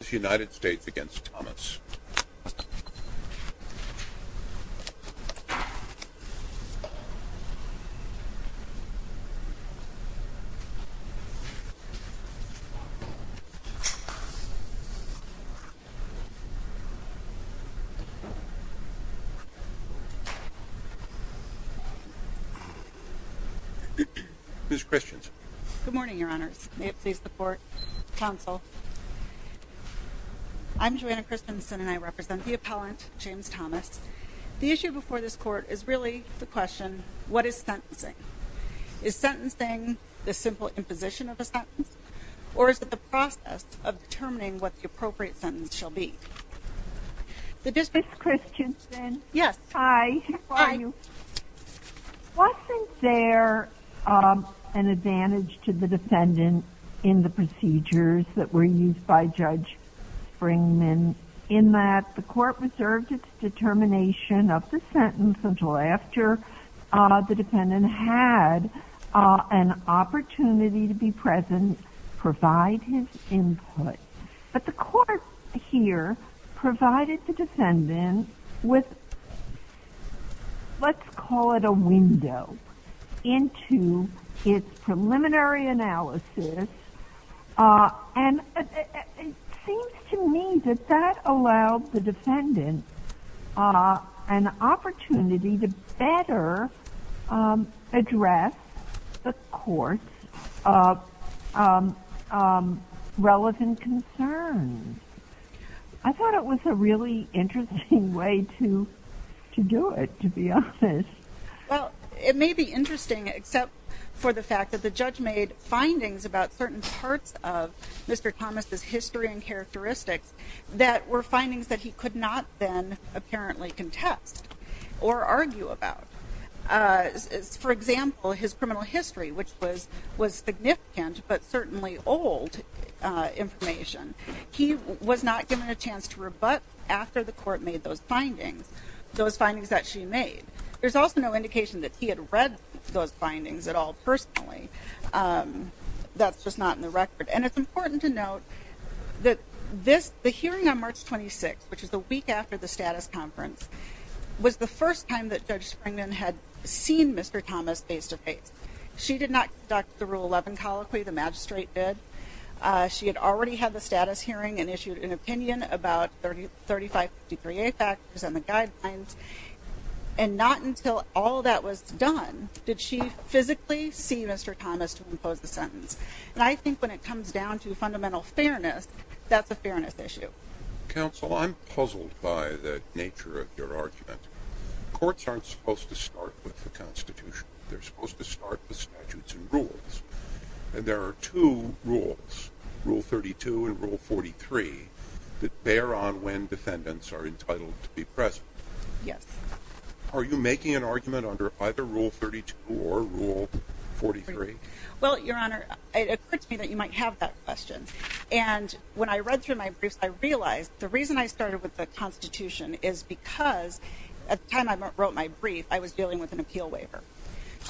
v. United States v. James Thomas Ms. Christians Good morning your honors. May it please the court, counsel. I'm Joanna Christianson and I represent the appellant James Thomas. The issue before this court is really the question, what is sentencing? Is sentencing the simple imposition of a sentence? Or is it the process of determining what the appropriate sentence shall be? Ms. Christianson Yes Hi. Wasn't there an advantage to the defendant in the procedures that were used by Judge Springman in that the court reserved its determination of the sentence until after the defendant had an opportunity to be present, provide his input? But the court here provided the defendant with let's call it a window into its preliminary analysis and it seems to me that that allowed the defendant an opportunity to better address the court's relevant concerns. I thought it was a really interesting way to do it to be honest. Ms. Christianson Well, it may be interesting except for the fact that the judge made findings about certain parts of Mr. Thomas' history and characteristics that were findings that he could not then apparently contest or argue about. For example, his criminal history which was significant but certainly old information. He was not given a chance to rebut after the court made those findings, those findings that she made. There's also no indication that he had read those findings at all personally. That's just not in the record. And it's important to note that the hearing on March 26th, which is the week after the status conference, was the first time that Judge Springman had seen Mr. Thomas face to face. She did not conduct the Rule 11 colloquy, the magistrate did. She had already had the status hearing and issued an opinion about 35 degree A factors and the guidelines and not until all that was done did she physically see Mr. Thomas to impose the sentence. And I think when it comes down to fundamental fairness, that's a fairness issue. Counsel, I'm puzzled by the nature of your argument. Courts aren't supposed to start with the Constitution. They're supposed to start with statutes and rules. And there are two rules, Rule 32 and Rule 43, that bear on when defendants are entitled to be present. Yes. Are you making an argument under either Rule 32 or Rule 43? Well, Your Honor, it occurred to me that you might have that question. And when I read through my briefs, I realized the reason I started with the Constitution is because at the time I wrote my brief, I was dealing with an appeal waiver.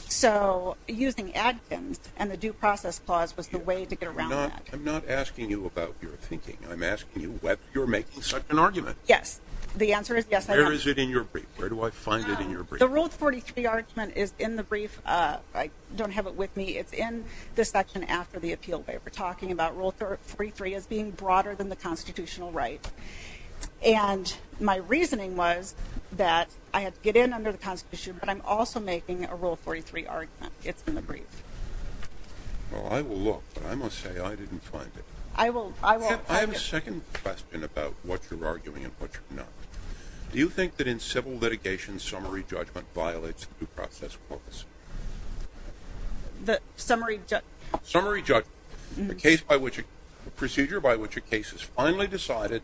So using Adkins and the due process clause was the way to get around that. I'm not asking you about your thinking. I'm asking you whether you're making such an argument. Yes. The answer is yes, I am. Where is it in your brief? Where do I find it in your brief? The Rule 43 argument is in the brief. I don't have it with me. It's in the section after the appeal waiver, talking about Rule 43 as being broader than the constitutional right. And my reasoning was that I had to get in under the Constitution, but I'm also making a Rule 43 argument. It's in the brief. Well, I will look, but I must say I didn't find it. I will. I have a second question about what you're arguing and what you're not. Do you think that in civil litigation, summary judgment violates the due process clause? Summary judgment? Summary judgment, the procedure by which a case is finally decided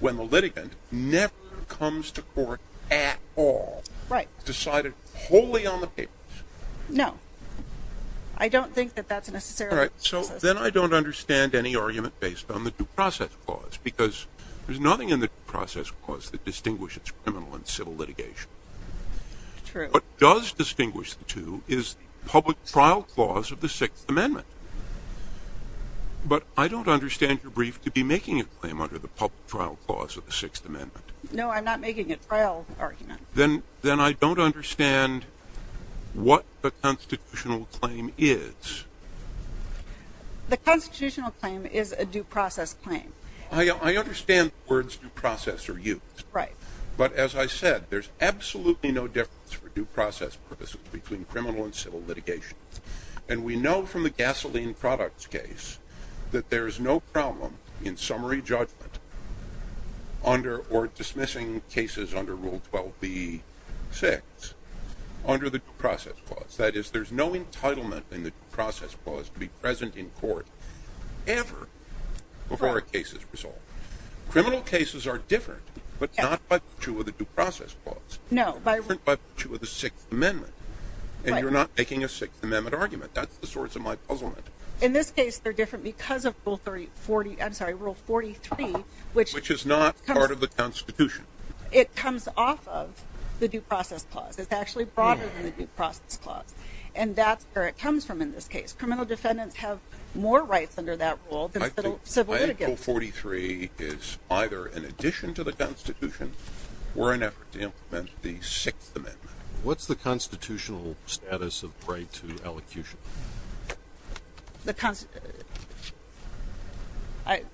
when the litigant never comes to court at all. Right. Decided wholly on the papers. No. I don't think that that's necessarily the case. All right, so then I don't understand any argument based on the due process clause, because there's nothing in the due process clause that distinguishes criminal and civil litigation. True. What does distinguish the two is the public trial clause of the Sixth Amendment. But I don't understand your brief to be making a claim under the public trial clause of the Sixth Amendment. No, I'm not making a trial argument. Then I don't understand what the constitutional claim is. The constitutional claim is a due process claim. I understand the words due process are used. Right. But as I said, there's absolutely no difference for due process purposes between criminal and civil litigation. And we know from the gasoline products case that there is no problem in summary judgment under or dismissing cases under Rule 12b-6 under the due process clause. That is, there's no entitlement in the due process clause to be present in court ever before a case is resolved. Criminal cases are different, but not by virtue of the due process clause. No. They're different by virtue of the Sixth Amendment. And you're not making a Sixth Amendment argument. That's the source of my puzzlement. In this case, they're different because of Rule 43, which is not part of the Constitution. It comes off of the due process clause. It's actually broader than the due process clause. And that's where it comes from in this case. Criminal defendants have more rights under that rule than civil litigants. Rule 43 is either in addition to the Constitution or an effort to implement the Sixth Amendment. What's the constitutional status of right to elocution?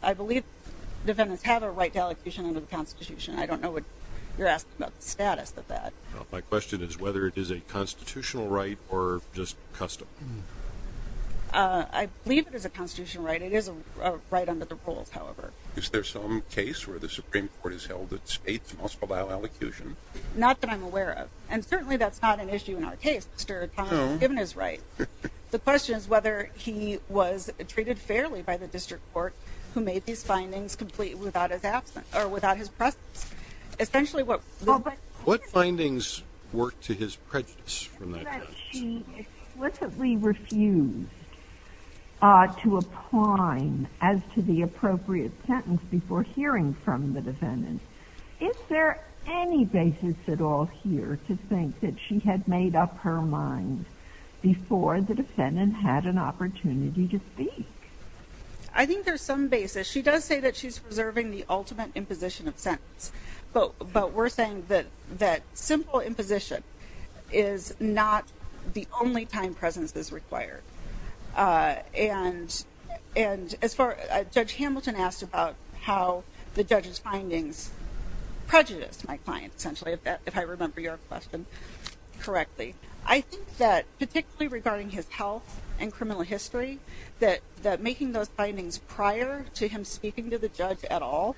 I believe defendants have a right to elocution under the Constitution. I don't know what you're asking about the status of that. My question is whether it is a constitutional right or just custom. I believe it is a constitutional right. It is a right under the rules, however. Is there some case where the Supreme Court has held that states must allow elocution? Not that I'm aware of. And certainly that's not an issue in our case. Mr. O'Connor was given his right. The question is whether he was treated fairly by the district court who made these findings complete without his presence. What findings work to his prejudice from that case? She explicitly refused to apply as to the appropriate sentence before hearing from the defendant. Is there any basis at all here to think that she had made up her mind before the defendant had an opportunity to speak? I think there's some basis. She does say that she's preserving the ultimate imposition of sentence. But we're saying that simple imposition is not the only time presence is required. Judge Hamilton asked about how the judge's findings prejudiced my client, essentially, if I remember your question correctly. I think that particularly regarding his health and criminal history, that making those findings prior to him speaking to the judge at all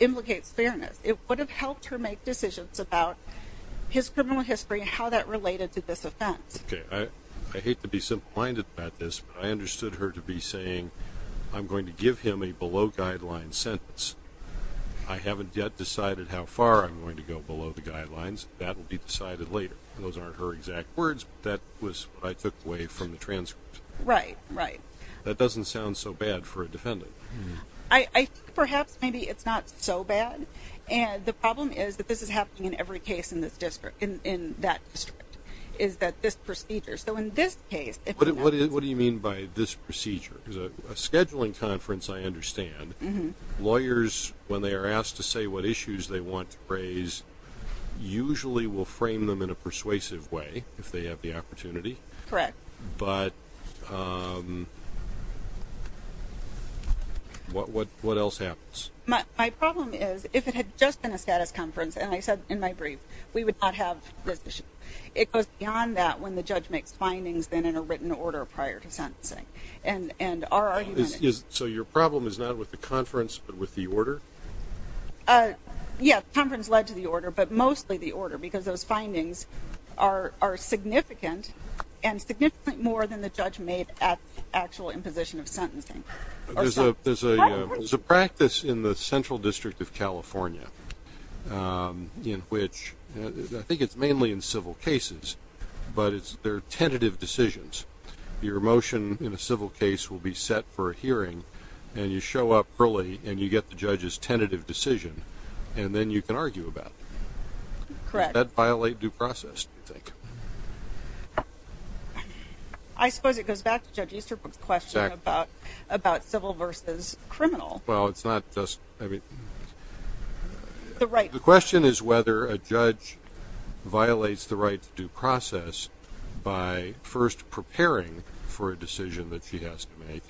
implicates fairness. It would have helped her make decisions about his criminal history and how that related to this offense. Okay. I hate to be simple-minded about this, but I understood her to be saying I'm going to give him a below-guidelines sentence. I haven't yet decided how far I'm going to go below the guidelines. That will be decided later. Those aren't her exact words, but that was what I took away from the transcript. Right. Right. That doesn't sound so bad for a defendant. I think perhaps maybe it's not so bad. And the problem is that this is happening in every case in this district, in that district, is that this procedure. So in this case, if I'm not mistaken. What do you mean by this procedure? A scheduling conference, I understand. Lawyers, when they are asked to say what issues they want to raise, usually will frame them in a persuasive way if they have the opportunity. Correct. But what else happens? My problem is if it had just been a status conference, and I said in my brief, we would not have this issue. It goes beyond that when the judge makes findings then in a written order prior to sentencing. And our argument is... So your problem is not with the conference, but with the order? Yes, conference led to the order, but mostly the order, because those findings are significant, and significantly more than the judge made at the actual imposition of sentencing. There's a practice in the Central District of California in which, I think it's mainly in civil cases, but they're tentative decisions. Your motion in a civil case will be set for a hearing, and you show up early, and you get the judge's tentative decision, and then you can argue about it. Correct. Does that violate due process, do you think? I suppose it goes back to Judge Easterbrook's question about civil versus criminal. Well, it's not just... The right. The question is whether a judge violates the right to due process by, first, preparing for a decision that she has to make,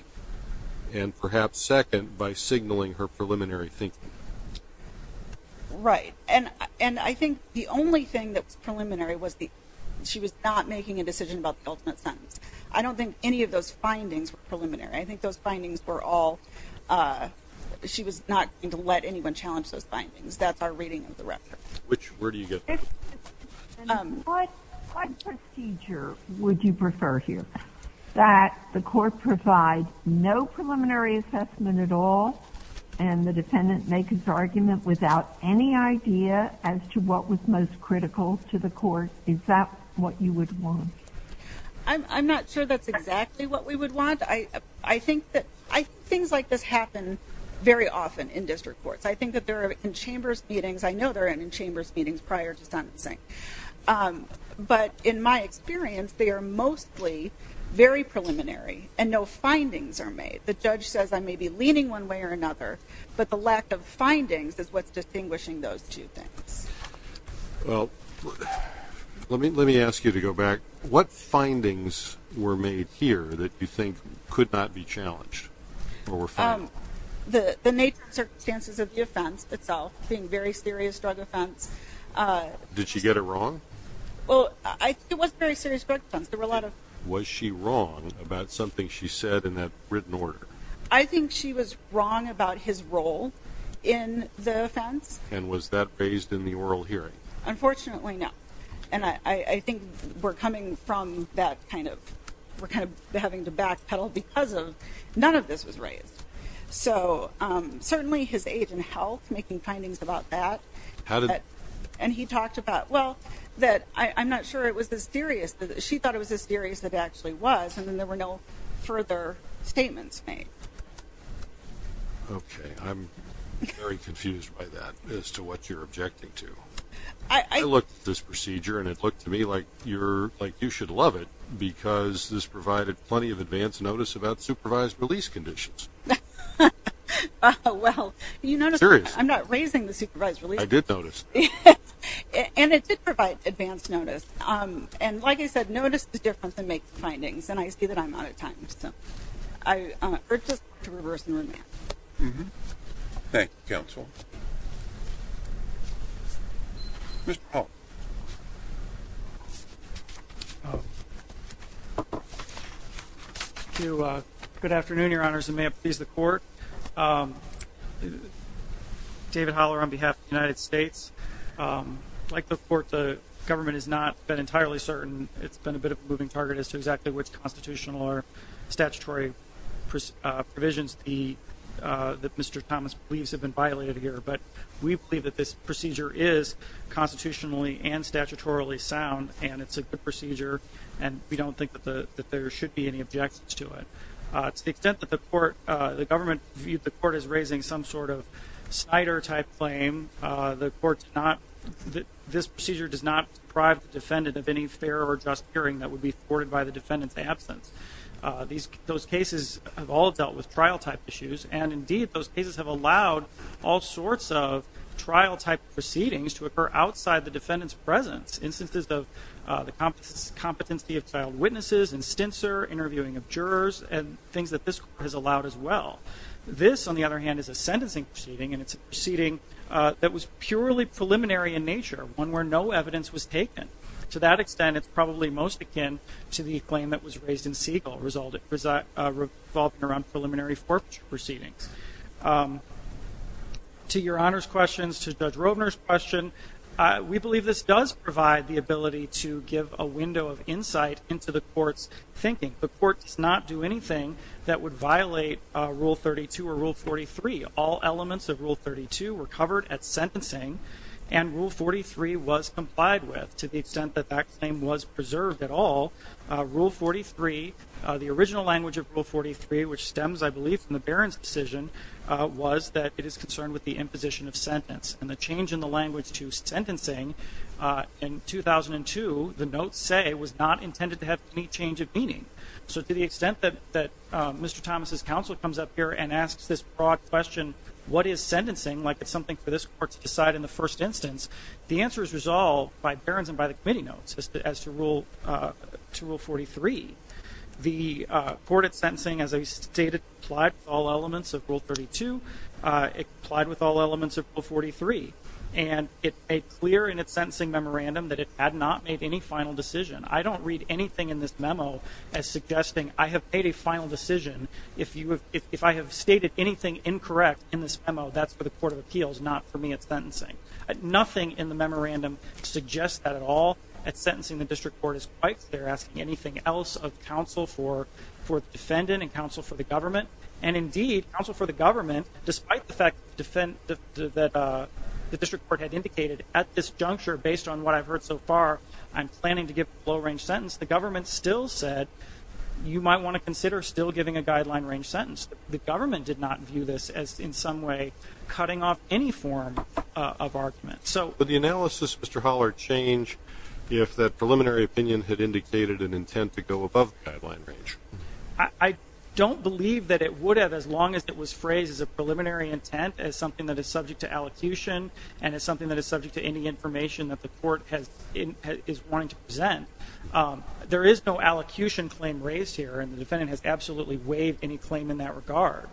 and perhaps, second, by signaling her preliminary thinking. Right. And I think the only thing that was preliminary was she was not making a decision about the ultimate sentence. I don't think any of those findings were preliminary. I think those findings were all... She was not going to let anyone challenge those findings. That's our reading of the record. Where do you get that? What procedure would you prefer here? That the court provide no preliminary assessment at all, and the defendant make his argument without any idea as to what was most critical to the court? Is that what you would want? I'm not sure that's exactly what we would want. I think that things like this happen very often in district courts. I think that they're in chambers meetings. I know they're in chambers meetings prior to sentencing. But in my experience, they are mostly very preliminary, and no findings are made. The judge says I may be leaning one way or another, but the lack of findings is what's distinguishing those two things. Well, let me ask you to go back. What findings were made here that you think could not be challenged or were found? The nature and circumstances of the offense itself being a very serious drug offense. Did she get it wrong? It was a very serious drug offense. Was she wrong about something she said in that written order? I think she was wrong about his role in the offense. And was that raised in the oral hearing? Unfortunately, no. And I think we're coming from that kind of having to backpedal because none of this was raised. So certainly his age and health, making findings about that. And he talked about, well, that I'm not sure it was this serious. She thought it was this serious that it actually was, and then there were no further statements made. Okay. I'm very confused by that as to what you're objecting to. I looked at this procedure, and it looked to me like you should love it because this provided plenty of advance notice about supervised release conditions. Well, you notice I'm not raising the supervised release. I did notice. And it did provide advance notice. And like I said, notice is different than make findings, and I see that I'm out of time. So we're just going to reverse the remand. Thank you, Counsel. Mr. Hall. Good afternoon, Your Honors, and may it please the Court. David Haller on behalf of the United States. Like the Court, the government has not been entirely certain. It's been a bit of a moving target as to exactly which constitutional or statutory provisions that Mr. Thomas believes have been violated here. But we believe that this procedure is constitutionally and statutorily sound, and it's a good procedure, and we don't think that there should be any objections to it. To the extent that the government viewed the Court as raising some sort of Snyder-type claim, the Court did not – this procedure does not deprive the defendant of any fair or just hearing that would be afforded by the defendant's absence. Those cases have all dealt with trial-type issues, and, indeed, those cases have allowed all sorts of trial-type proceedings to occur outside the defendant's presence, instances of the competency of child witnesses and stincer, interviewing of jurors, and things that this Court has allowed as well. This, on the other hand, is a sentencing proceeding, and it's a proceeding that was purely preliminary in nature, one where no evidence was taken. To that extent, it's probably most akin to the claim that was raised in Siegel, revolving around preliminary forfeiture proceedings. To Your Honor's questions, to Judge Rovner's question, we believe this does provide the ability to give a window of insight into the Court's thinking. The Court does not do anything that would violate Rule 32 or Rule 43. All elements of Rule 32 were covered at sentencing, and Rule 43 was complied with to the extent that that claim was preserved at all. Rule 43, the original language of Rule 43, which stems, I believe, from the Baron's decision, was that it is concerned with the imposition of sentence. And the change in the language to sentencing in 2002, the notes say, was not intended to have any change of meaning. So to the extent that Mr. Thomas' counsel comes up here and asks this broad question, what is sentencing, like it's something for this Court to decide in the first instance, the answer is resolved by Baron's and by the Committee notes as to Rule 43. The Court at sentencing, as I stated, complied with all elements of Rule 32. It complied with all elements of Rule 43. And it made clear in its sentencing memorandum that it had not made any final decision. I don't read anything in this memo as suggesting I have made a final decision. If I have stated anything incorrect in this memo, that's for the Court of Appeals, not for me at sentencing. Nothing in the memorandum suggests that at all. At sentencing, the District Court is quite clear asking anything else of counsel for the defendant and counsel for the government, and indeed, counsel for the government, despite the fact that the District Court had indicated at this juncture, based on what I've heard so far, I'm planning to give a low-range sentence, the government still said you might want to consider still giving a guideline-range sentence. The government did not view this as in some way cutting off any form of argument. Would the analysis, Mr. Haller, change if that preliminary opinion had indicated an intent to go above the guideline range? I don't believe that it would have as long as it was phrased as a preliminary intent, as something that is subject to allocution, and as something that is subject to any information that the court is wanting to present. There is no allocution claim raised here, and the defendant has absolutely waived any claim in that regard.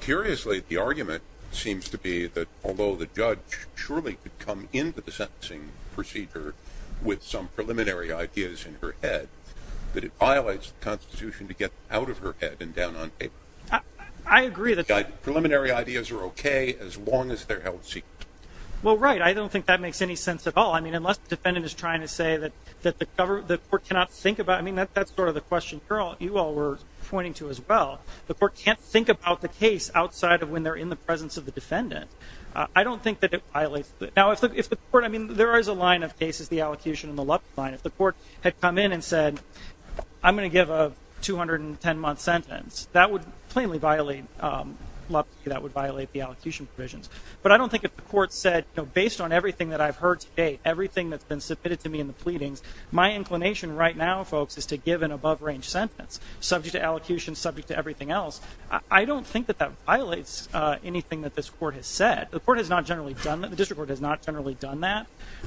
Curiously, the argument seems to be that although the judge surely could come into the sentencing procedure with some preliminary ideas in her head, that it violates the Constitution to get out of her head and down on paper. I agree. Preliminary ideas are okay as long as they're held secret. Well, right. I don't think that makes any sense at all. I mean, unless the defendant is trying to say that the court cannot think about it. I mean, that's sort of the question you all were pointing to as well. The court can't think about the case outside of when they're in the presence of the defendant. I don't think that it violates. Now, if the court, I mean, there is a line of cases, the allocution and the LUPTA line. If the court had come in and said, I'm going to give a 210-month sentence, that would plainly violate LUPTA, that would violate the allocution provisions. But I don't think if the court said, based on everything that I've heard today, everything that's been submitted to me in the pleadings, my inclination right now, folks, is to give an above-range sentence, subject to allocution, subject to everything else. I don't think that that violates anything that this court has said. The court has not generally done that. The district court has not generally done that.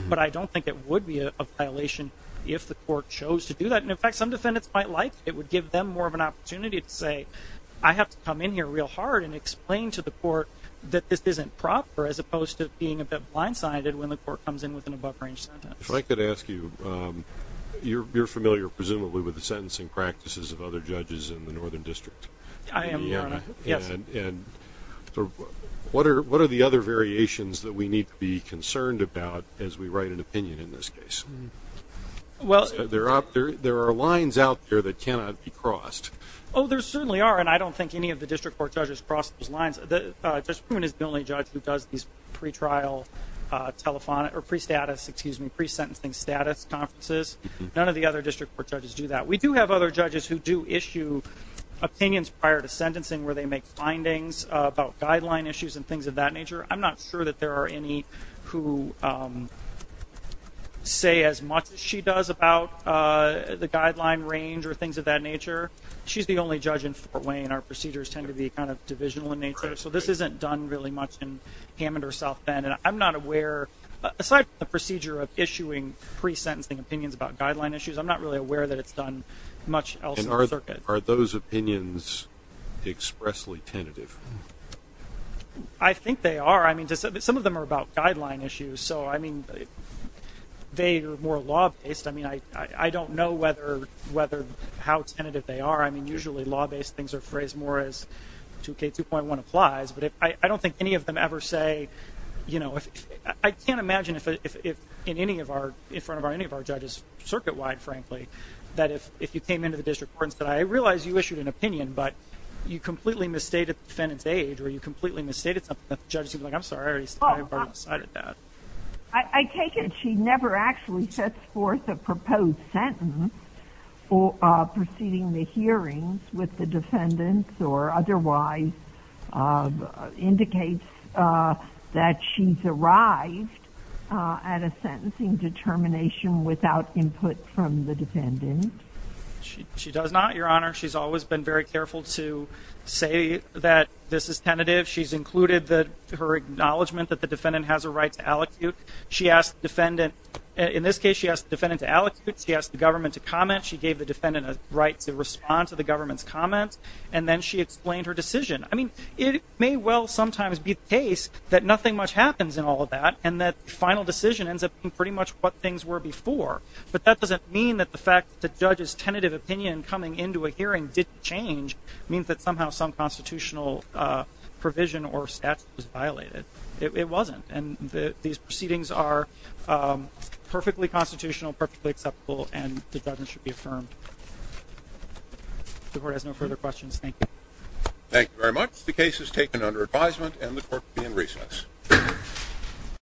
But I don't think it would be a violation if the court chose to do that. And, in fact, some defendants might like it. It would give them more of an opportunity to say, I have to come in here real hard and explain to the court that this isn't proper, as opposed to being a bit blindsided when the court comes in with an above-range sentence. If I could ask you, you're familiar, presumably, with the sentencing practices of other judges in the Northern District. I am, Your Honor. Yes. And what are the other variations that we need to be concerned about as we write an opinion in this case? There are lines out there that cannot be crossed. Oh, there certainly are, and I don't think any of the district court judges cross those lines. Judge Pruen is the only judge who does these pre-trial telephonic or pre-status, excuse me, pre-sentencing status conferences. None of the other district court judges do that. We do have other judges who do issue opinions prior to sentencing where they make findings about guideline issues and things of that nature. I'm not sure that there are any who say as much as she does about the guideline range or things of that nature. She's the only judge in Fort Wayne. Our procedures tend to be kind of divisional in nature, so this isn't done really much in Hammond or South Bend. And I'm not aware, aside from the procedure of issuing pre-sentencing opinions about guideline issues, I'm not really aware that it's done much else in the circuit. Are those opinions expressly tentative? I think they are. I mean, some of them are about guideline issues. So, I mean, they are more law-based. I mean, I don't know how tentative they are. I mean, usually law-based things are phrased more as 2K2.1 applies, but I don't think any of them ever say, you know, I can't imagine in front of any of our judges circuit-wide, frankly, that if you came into the district court and said, I realize you issued an opinion, but you completely misstated the defendant's age or you completely misstated something that the judge is going to be like, I'm sorry, I already decided that. I take it she never actually sets forth a proposed sentence preceding the hearings with the defendants or otherwise indicates that she's arrived at a sentencing determination without input from the defendant? She does not, Your Honor. She's always been very careful to say that this is tentative. She's included her acknowledgment that the defendant has a right to allocute. She asked the defendant, in this case, she asked the defendant to allocute. She asked the government to comment. She gave the defendant a right to respond to the government's comments, and then she explained her decision. I mean, it may well sometimes be the case that nothing much happens in all of that and that the final decision ends up being pretty much what things were before, but that doesn't mean that the fact that the judge's tentative opinion coming into a hearing didn't change. It means that somehow some constitutional provision or statute was violated. It wasn't, and these proceedings are perfectly constitutional, perfectly acceptable, and the judge should be affirmed. The Court has no further questions. Thank you. Thank you very much. The case is taken under advisement, and the Court will be in recess.